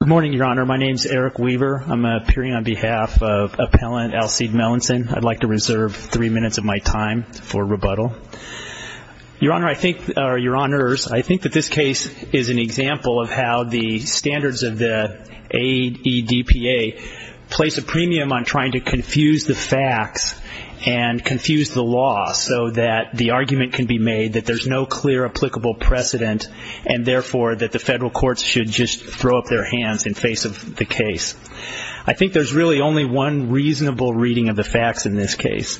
Good morning, Your Honor. My name's Eric Weaver. I'm appearing on behalf of Appellant Alcide Melnson. I'd like to reserve three minutes of my time for rebuttal. Your Honor, I think, or Your Honors, I think that this case is an example of how the standards of the AEDPA place a premium on trying to confuse the facts and confuse the law so that the argument can be made that there's no clear applicable precedent and, therefore, that the federal courts should just throw up their hands in face of the case. I think there's really only one reasonable reading of the facts in this case.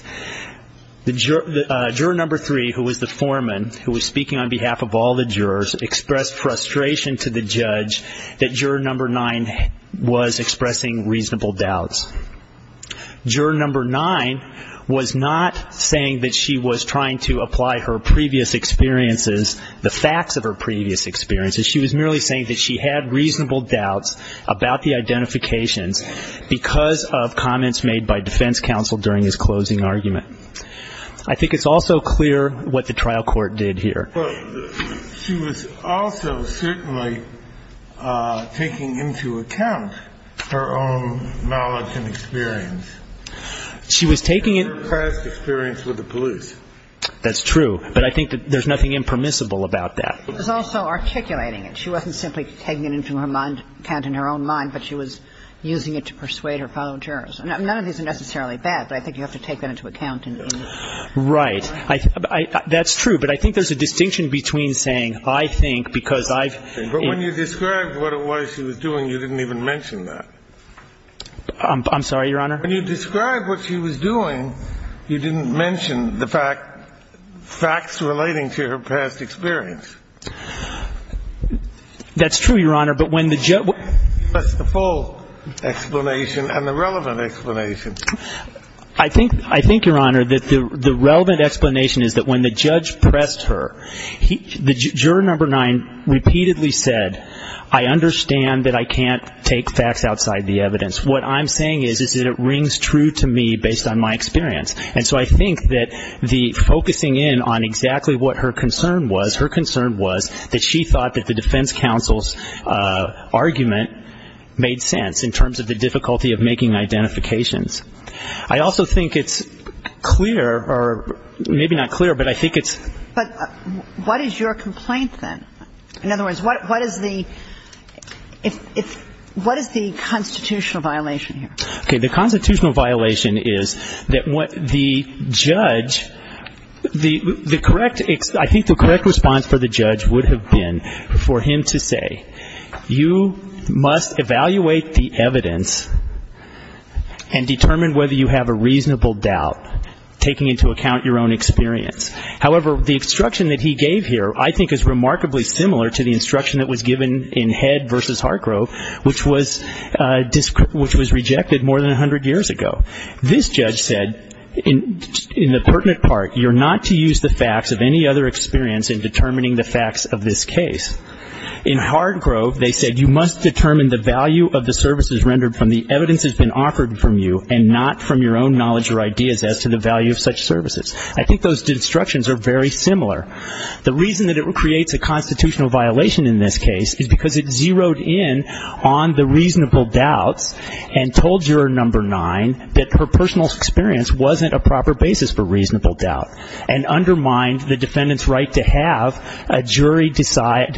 Juror number three, who was the foreman, who was speaking on behalf of all the jurors, expressed frustration to the judge that juror number nine was expressing reasonable doubts. Juror number nine was not saying that she was trying to apply her previous experiences, the facts of her previous experiences. She was merely saying that she had reasonable doubts about the identifications because of comments made by defense counsel during his closing argument. I think it's also clear what the trial court did here. But she was also certainly taking into account her own knowledge and experience. She was taking it. Her past experience with the police. That's true. But I think that there's nothing impermissible about that. She was also articulating it. She wasn't simply taking it into account in her own mind, but she was using it to persuade her fellow jurors. None of these are necessarily bad, but I think you have to take that into account. Right. That's true. But I think there's a distinction between saying, I think, because I've ---- But when you described what it was she was doing, you didn't even mention that. I'm sorry, Your Honor? When you described what she was doing, you didn't mention the fact ---- facts relating to her past experience. That's true, Your Honor. But when the judge ---- That's the full explanation and the relevant explanation. I think, Your Honor, that the relevant explanation is that when the judge pressed her, the juror number nine repeatedly said, I understand that I can't take facts outside the evidence. What I'm saying is that it rings true to me based on my experience. And so I think that the focusing in on exactly what her concern was, that she thought that the defense counsel's argument made sense in terms of the difficulty of making identifications. I also think it's clear or maybe not clear, but I think it's ---- But what is your complaint, then? In other words, what is the constitutional violation here? Okay. The constitutional violation is that what the judge, the correct ---- I think the correct response for the judge would have been for him to say, you must evaluate the evidence and determine whether you have a reasonable doubt, taking into account your own experience. However, the instruction that he gave here I think is remarkably similar to the instruction that was given in Head v. This judge said, in the pertinent part, you're not to use the facts of any other experience in determining the facts of this case. In Hardgrove, they said, you must determine the value of the services rendered from the evidence that's been offered from you and not from your own knowledge or ideas as to the value of such services. I think those instructions are very similar. The reason that it creates a constitutional violation in this case is because it zeroed in on the reasonable doubts and told Juror No. 9 that her personal experience wasn't a proper basis for reasonable doubt and undermined the defendant's right to have a jury decide,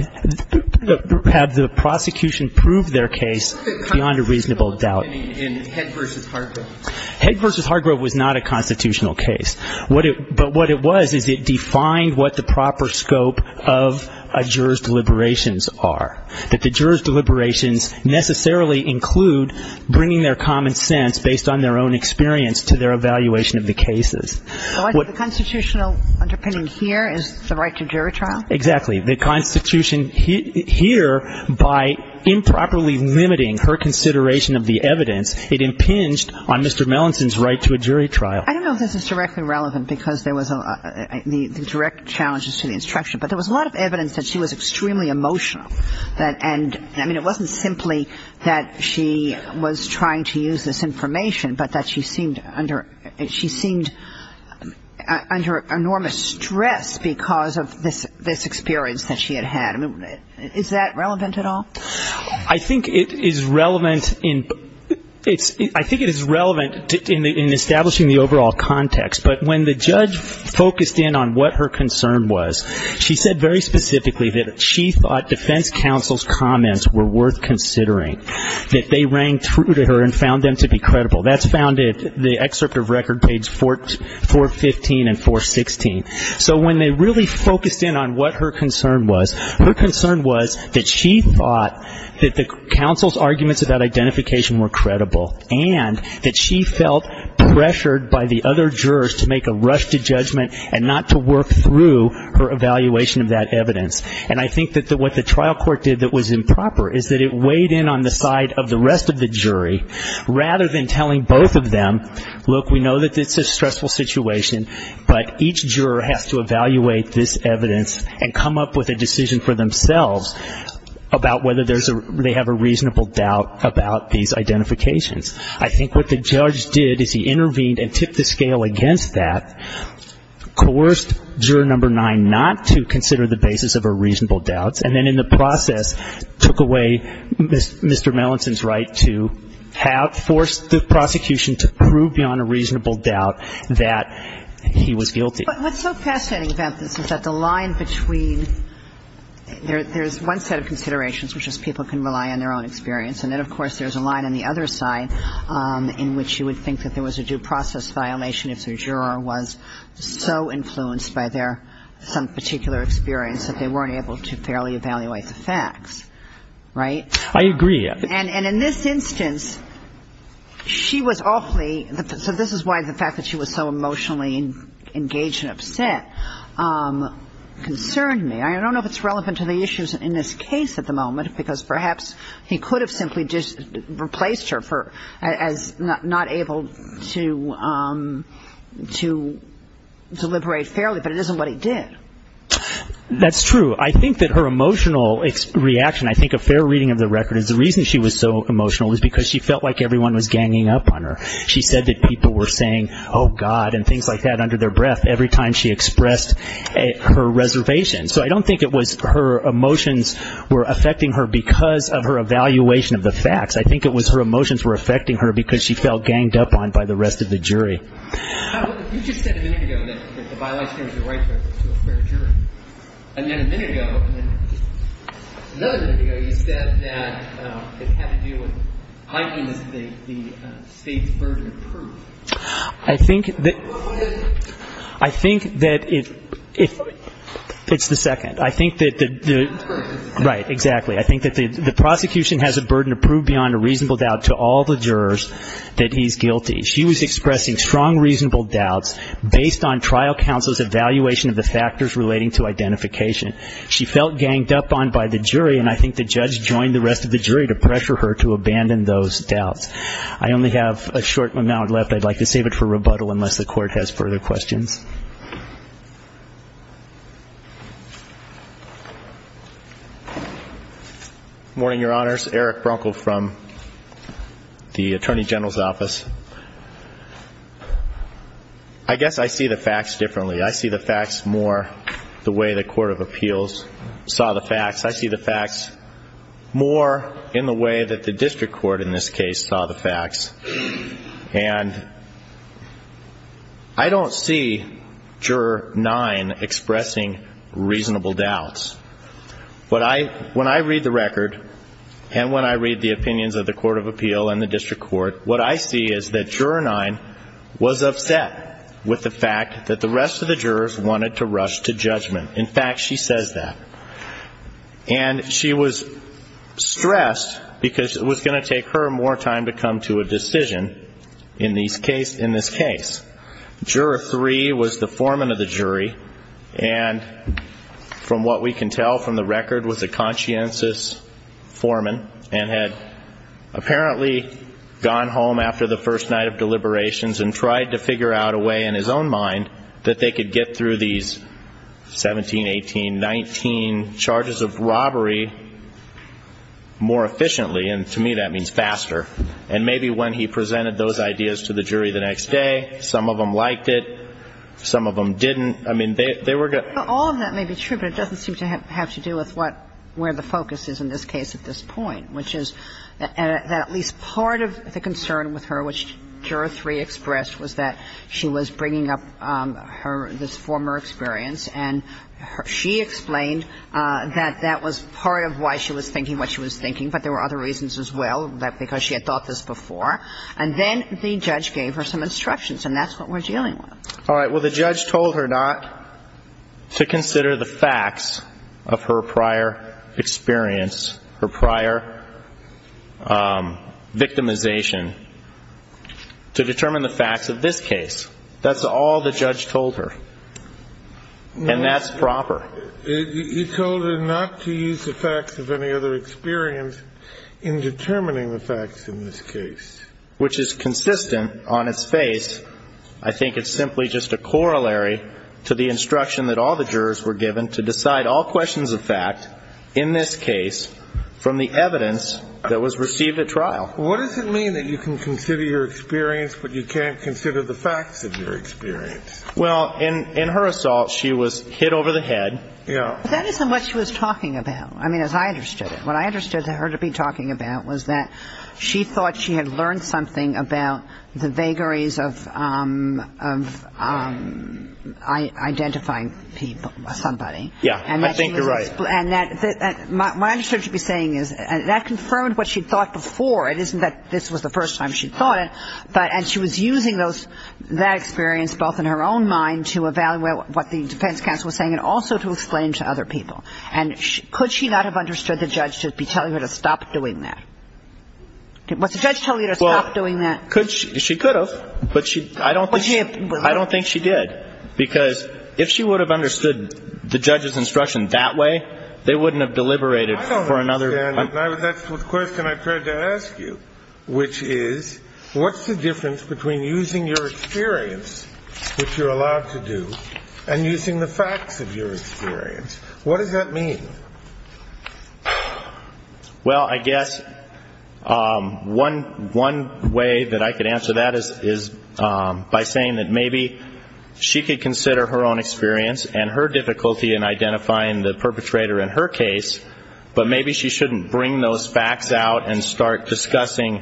have the prosecution prove their case beyond a reasonable doubt. In Head v. Hardgrove. Head v. Hardgrove was not a constitutional case. But what it was is it defined what the proper scope of a juror's deliberations are, that the juror's deliberations necessarily include bringing their common sense based on their own experience to their evaluation of the cases. So I think the constitutional underpinning here is the right to jury trial? Exactly. The Constitution here, by improperly limiting her consideration of the evidence, it impinged on Mr. Melanson's right to a jury trial. I don't know if this is directly relevant because there was a the direct challenges to the instruction. But there was a lot of evidence that she was extremely emotional. And, I mean, it wasn't simply that she was trying to use this information, but that she seemed under enormous stress because of this experience that she had had. Is that relevant at all? I think it is relevant in establishing the overall context. But when the judge focused in on what her concern was, she said very specifically that she thought defense counsel's comments were worth considering, that they rang true to her and found them to be credible. That's found in the excerpt of record page 415 and 416. So when they really focused in on what her concern was, her concern was that she thought that the counsel's arguments about identification were credible and that she felt pressured by the other jurors to make a rush to judgment and not to work through her evaluation of that evidence. And I think that what the trial court did that was improper is that it weighed in on the side of the rest of the jury, rather than telling both of them, look, we know that this is a stressful situation, but each juror has to evaluate this evidence and come up with a decision for themselves about whether they have a reasonable doubt about these identifications. I think what the judge did is he intervened and tipped the scale against that, coerced juror number 9 not to consider the basis of her reasonable doubts, and then in the process took away Mr. Melanson's right to have forced the prosecution to prove beyond a reasonable doubt that he was guilty. But what's so fascinating about this is that the line between there's one set of considerations, which is people can rely on their own experience, and then, of course, there's a line on the other side in which you would think that there was a due process violation if your juror was so influenced by their some particular experience that they weren't able to fairly evaluate the facts, right? I agree. And in this instance, she was awfully – so this is why the fact that she was so emotionally engaged and upset concerned me. I don't know if it's relevant to the issues in this case at the moment because perhaps he could have simply just replaced her as not able to deliberate fairly, but it isn't what he did. That's true. I think that her emotional reaction, I think a fair reading of the record, is the reason she was so emotional was because she felt like everyone was ganging up on her. She said that people were saying, oh, God, and things like that under their breath every time she expressed her reservation. So I don't think it was her emotions were affecting her because of her evaluation of the facts. I think it was her emotions were affecting her because she felt ganged up on by the rest of the jury. You just said a minute ago that the violation was a right to a fair jury. And then a minute ago, another minute ago, you said that it had to do with heightened the state's burden of proof. I think that it's the second. I think that the – right, exactly. I think that the prosecution has a burden of proof beyond a reasonable doubt to all the jurors that he's guilty. She was expressing strong reasonable doubts based on trial counsel's evaluation of the factors relating to identification. She felt ganged up on by the jury, and I think the judge joined the rest of the jury to pressure her to abandon those doubts. I only have a short amount left. I'd like to save it for rebuttal unless the Court has further questions. Morning, Your Honors. Eric Brunkle from the Attorney General's Office. I guess I see the facts differently. I see the facts more the way the Court of Appeals saw the facts. I see the facts more in the way that the district court in this case saw the facts. And I don't see Juror 9 expressing reasonable doubts. When I read the record and when I read the opinions of the Court of Appeal and the district court, what I see is that Juror 9 was upset with the fact that the rest of the jurors wanted to rush to judgment. In fact, she says that. And she was stressed because it was going to take her more time to come to a decision in this case. Juror 3 was the foreman of the jury, and from what we can tell from the record, was a conscientious foreman and had apparently gone home after the first night of deliberations and tried to figure out a way in his own mind that they could get through these 17, 18, 19 charges of robbery more efficiently, and to me that means faster. And maybe when he presented those ideas to the jury the next day, some of them liked it, some of them didn't. I mean, they were going to ---- All of that may be true, but it doesn't seem to have to do with where the focus is in this case at this point, which is that at least part of the concern with her, which Juror 3 expressed, was that she was bringing up her ---- this former experience, and she explained that that was part of why she was thinking what she was thinking, but there were other reasons as well, because she had thought this before. And then the judge gave her some instructions, and that's what we're dealing with. All right. Well, the judge told her not to consider the facts of her prior experience, her prior victimization, to determine the facts of this case. That's all the judge told her, and that's proper. You told her not to use the facts of any other experience in determining the facts in this case. Which is consistent on its face. I think it's simply just a corollary to the instruction that all the jurors were given to decide all questions of fact in this case from the evidence that was received at trial. What does it mean that you can consider your experience, but you can't consider the facts of your experience? Well, in her assault, she was hit over the head. Yeah. But that isn't what she was talking about, I mean, as I understood it. What I understood her to be talking about was that she thought she had learned something about the vagaries of identifying somebody. Yeah. I think you're right. And what I understood she'd be saying is that confirmed what she'd thought before. It isn't that this was the first time she'd thought it, and she was using that experience both in her own mind to evaluate what the defense counsel was saying and also to explain to other people. And could she not have understood the judge to be telling her to stop doing that? Was the judge telling her to stop doing that? Well, she could have, but I don't think she did, because if she would have understood the judge's instruction that way, they wouldn't have deliberated for another. I don't understand. That's the question I tried to ask you, which is what's the difference between using your experience, which you're allowed to do, and using the facts of your experience? What does that mean? Well, I guess one way that I could answer that is by saying that maybe she could consider her own experience and her difficulty in identifying the perpetrator in her case, but maybe she shouldn't bring those facts out and start discussing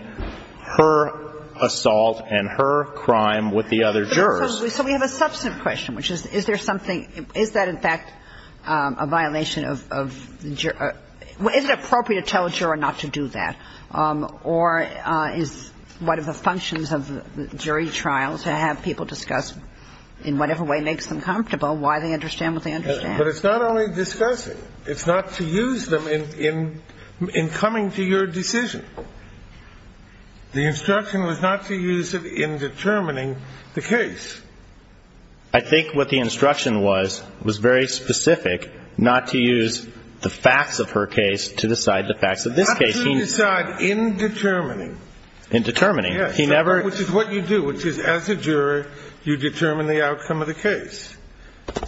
her assault and her crime with the other jurors. So we have a substantive question, which is, is there something – is that, in fact, a violation of the – is it appropriate to tell a juror not to do that? Or is one of the functions of jury trials to have people discuss in whatever way makes them comfortable why they understand what they understand? But it's not only discussing. It's not to use them in coming to your decision. The instruction was not to use it in determining the case. I think what the instruction was was very specific, not to use the facts of her case to decide the facts of this case. Not to decide in determining. In determining. Yes. He never – Which is what you do, which is, as a juror, you determine the outcome of the case.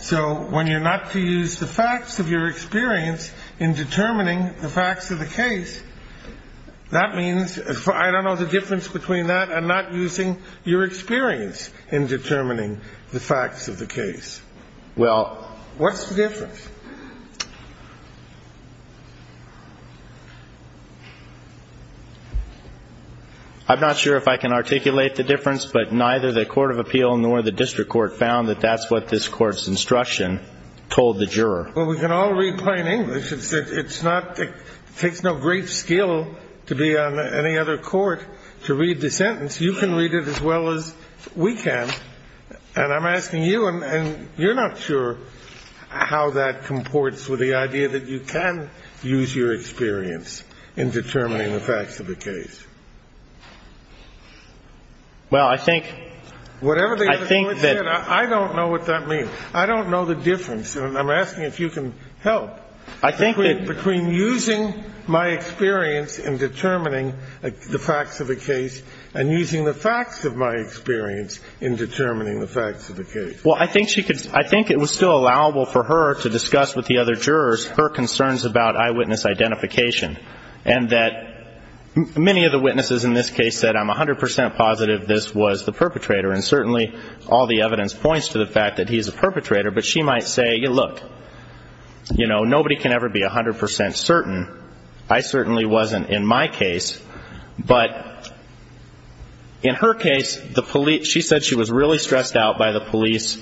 So when you're not to use the facts of your experience in determining the facts of the case, that means – I don't know the difference between that and not using your experience in determining the facts of the case. Well, what's the difference? I'm not sure if I can articulate the difference, but neither the court of appeal nor the district court found that that's what this court's instruction told the juror. Well, we can all read plain English. It's not – it takes no great skill to be on any other court to read the sentence. You can read it as well as we can. And I'm asking you, and you're not sure how that comports with the idea that you can use your experience in determining the facts of the case. Well, I think – Whatever the other juror said, I don't know what that means. I don't know the difference. And I'm asking if you can help. I think that – Between using my experience in determining the facts of the case and using the facts of my experience in determining the facts of the case. Well, I think she could – I think it was still allowable for her to discuss with the other jurors her concerns about eyewitness identification, and that many of the witnesses in this case said, I'm 100 percent positive this was the perpetrator, and certainly all the evidence points to the fact that he's a perpetrator. But she might say, look, you know, nobody can ever be 100 percent certain. I certainly wasn't in my case. But in her case, the police – she said she was really stressed out by the police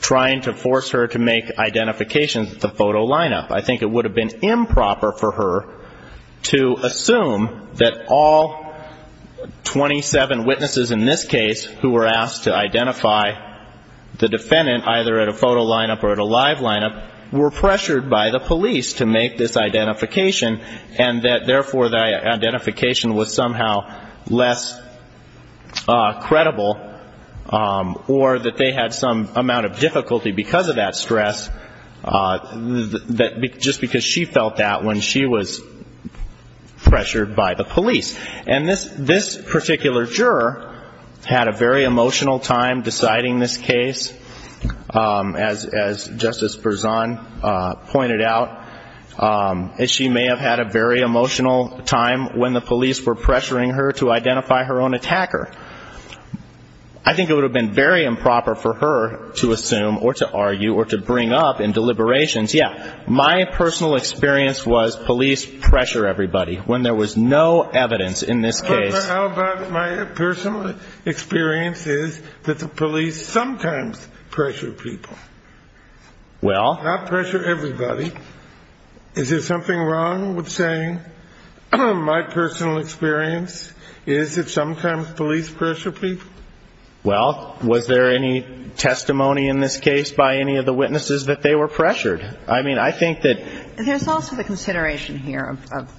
trying to force her to make identifications at the photo lineup. I think it would have been improper for her to assume that all 27 witnesses in this case who were asked to identify the defendant, either at a photo lineup or at a live lineup, were pressured by the police to make this identification, and that therefore the identification was somehow less credible or that they had some amount of difficulty because of that stress, just because she felt that when she was pressured by the police. And this particular juror had a very emotional time deciding this case. As Justice Berzon pointed out, she may have had a very emotional time when the police were pressuring her to identify her own attacker. I think it would have been very improper for her to assume or to argue or to bring up in deliberations, yeah, my personal experience was police pressure everybody. When there was no evidence in this case – How about my personal experience is that the police sometimes pressure people? Well – Not pressure everybody. Is there something wrong with saying my personal experience is that sometimes police pressure people? Well, was there any testimony in this case by any of the witnesses that they were pressured? I mean, I think that – There's also the consideration here of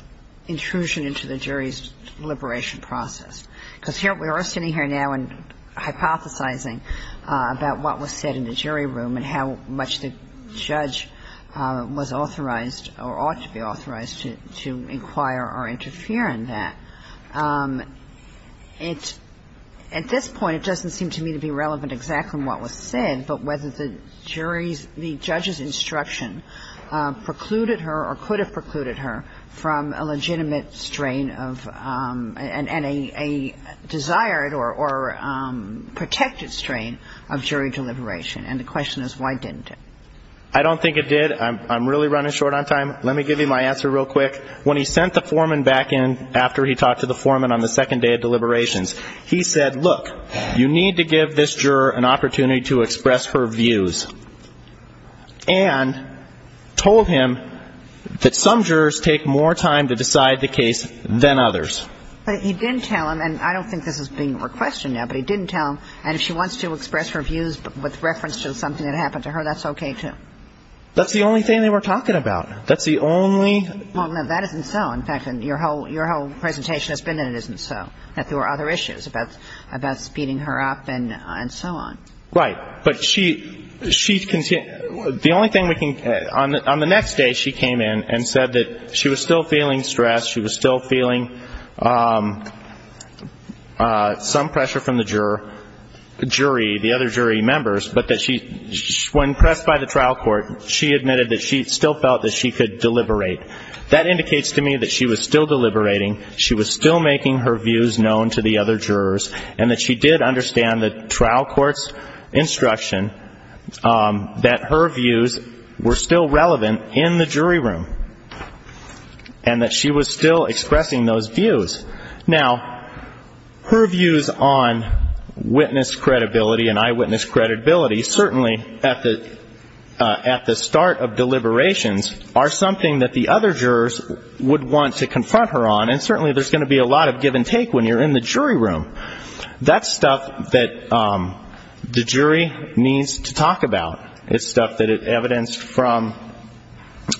intrusion into the jury's liberation process, because we are sitting here now and hypothesizing about what was said in the jury room and how much the judge was authorized or ought to be authorized to inquire or interfere in that. At this point, it doesn't seem to me to be relevant exactly what was said, but whether the jury's – the judge's instruction precluded her or could have precluded her from a legitimate strain of – and a desired or protected strain of jury deliberation. And the question is why didn't it? I don't think it did. I'm really running short on time. Let me give you my answer real quick. When he sent the foreman back in after he talked to the foreman on the second day of deliberations, he said, look, you need to give this juror an opportunity to express her views, and told him that some jurors take more time to decide the case than others. But he didn't tell him, and I don't think this is being requested now, but he didn't tell him, and if she wants to express her views with reference to something that happened to her, that's okay too. That's the only thing they were talking about. That's the only – Well, no, that isn't so. In fact, your whole presentation has been that it isn't so, that there were other issues about speeding her up and so on. Right. But she – the only thing we can – on the next day she came in and said that she was still feeling stressed, she was still feeling some pressure from the jury, the other jury members, but that she – when pressed by the trial court, she admitted that she still felt that she could deliberate. That indicates to me that she was still deliberating, she was still making her views known to the other jurors, and that she did understand the trial court's instruction that her views were still relevant in the jury room, and that she was still expressing those views. Now, her views on witness credibility and eyewitness credibility, certainly at the start of deliberations, are something that the other jurors would want to confront her on, and certainly there's going to be a lot of give and take when you're in the jury room. That's stuff that the jury needs to talk about. It's stuff that is evidenced from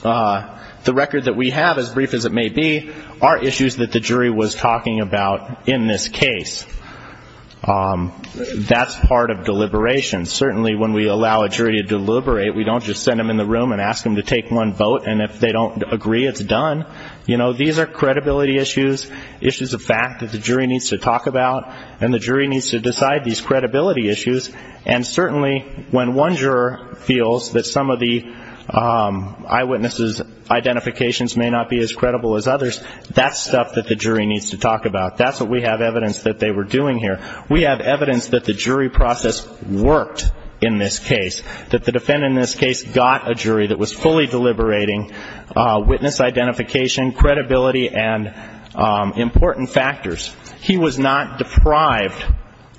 the record that we have, as brief as it may be, are issues that the jury was talking about in this case. That's part of deliberations. Certainly when we allow a jury to deliberate, we don't just send them in the room and ask them to take one vote, and if they don't agree, it's done. You know, these are credibility issues, issues of fact that the jury needs to talk about, and the jury needs to decide these credibility issues, and certainly when one juror feels that some of the eyewitness' identifications may not be as credible as others, that's stuff that the jury needs to talk about. That's what we have evidence that they were doing here. We have evidence that the jury process worked in this case, that the defendant in this case got a jury that was fully deliberating witness identification, credibility, and important factors. He was not deprived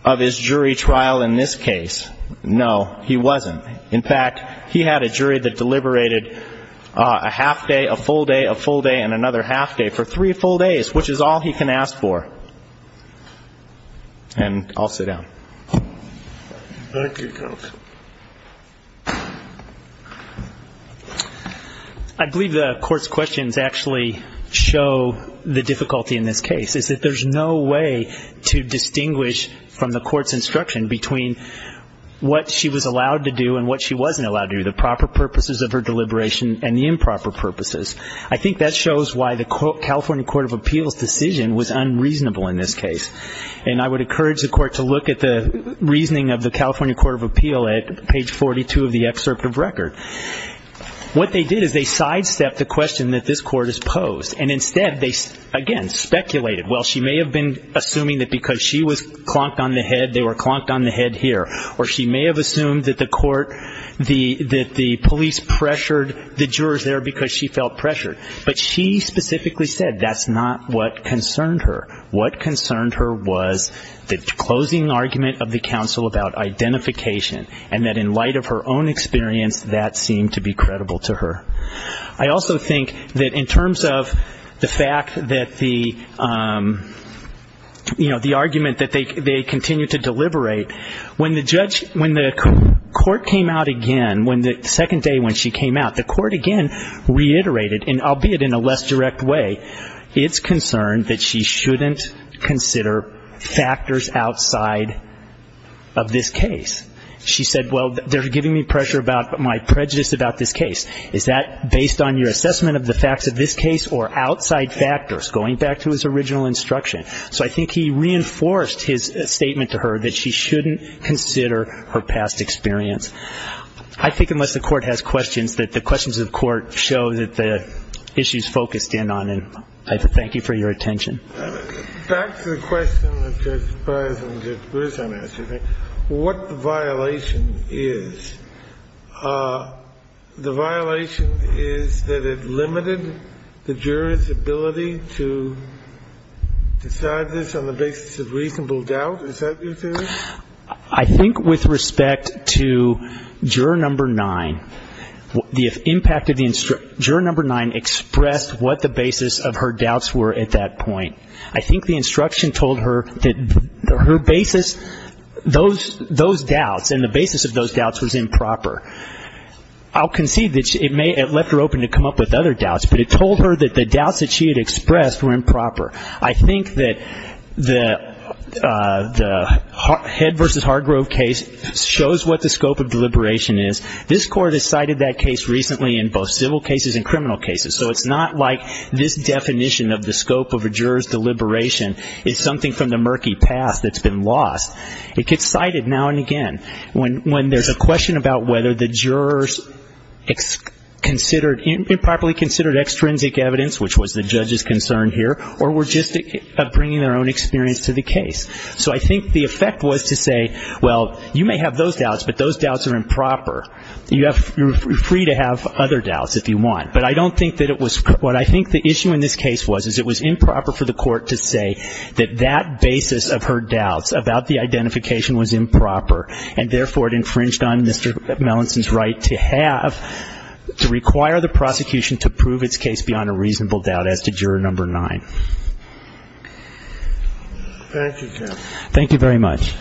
of his jury trial in this case. No, he wasn't. In fact, he had a jury that deliberated a half day, a full day, a full day, and another half day for three full days, which is all he can ask for. Thank you, counsel. I believe the court's questions actually show the difficulty in this case, is that there's no way to distinguish from the court's instruction between what she was allowed to do and what she wasn't allowed to do, the proper purposes of her deliberation and the improper purposes. I think that shows why the California Court of Appeals' decision was unreasonable in this case, and I would encourage the court to look at the reasoning of the California Court of Appeals at page 42 of the excerpt of record. What they did is they sidestepped the question that this court has posed, and instead they, again, speculated. Well, she may have been assuming that because she was clonked on the head, they were clonked on the head here, or she may have assumed that the police pressured the jurors there because she felt pressured, but she specifically said that's not what concerned her. What concerned her was the closing argument of the counsel about identification, and that in light of her own experience, that seemed to be credible to her. I also think that in terms of the fact that the, you know, the argument that they continued to deliberate, when the court came out again, the second day when she came out, the court again reiterated, albeit in a less direct way, it's concerned that she shouldn't consider factors outside of this case. She said, well, they're giving me pressure about my prejudice about this case. Is that based on your assessment of the facts of this case or outside factors, going back to his original instruction? So I think he reinforced his statement to her that she shouldn't consider her past experience. I think unless the Court has questions, that the questions of the Court show that the issues focus stand on. And I thank you for your attention. Back to the question that Judge Breyer and Judge Grissom asked, what the violation is. The violation is that it limited the jurors' ability to decide this on the basis of reasonable doubt. Is that your theory? I think with respect to Juror No. 9, the impact of the instruction, Juror No. 9 expressed what the basis of her doubts were at that point. I think the instruction told her that her basis, those doubts and the basis of those doubts was improper. I'll concede that it may have left her open to come up with other doubts, but it told her that the doubts that she had expressed were improper. I think that the Head v. Hargrove case shows what the scope of deliberation is. This Court has cited that case recently in both civil cases and criminal cases, so it's not like this definition of the scope of a juror's deliberation is something from the murky past that's been lost. It gets cited now and again when there's a question about whether the jurors improperly considered extrinsic evidence, which was the judge's concern here, or were just bringing their own experience to the case. So I think the effect was to say, well, you may have those doubts, but those doubts are improper. You're free to have other doubts if you want. But I don't think that it was what I think the issue in this case was, is it was improper for the Court to say that that basis of her doubts about the identification was improper, and therefore it infringed on Mr. Melanson's right to have, to require the prosecution to prove its case beyond a reasonable doubt as to juror number nine. Thank you, Jeff. Thank you very much.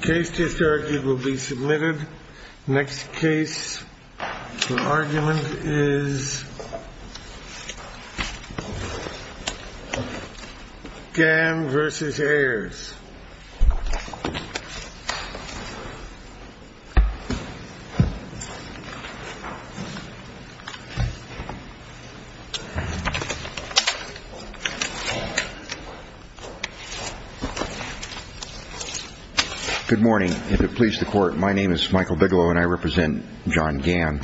The case just argued will be submitted. Next case for argument is Gann v. Ayers. Good morning. If it pleases the Court, my name is Michael Bigelow, and I represent John Gann.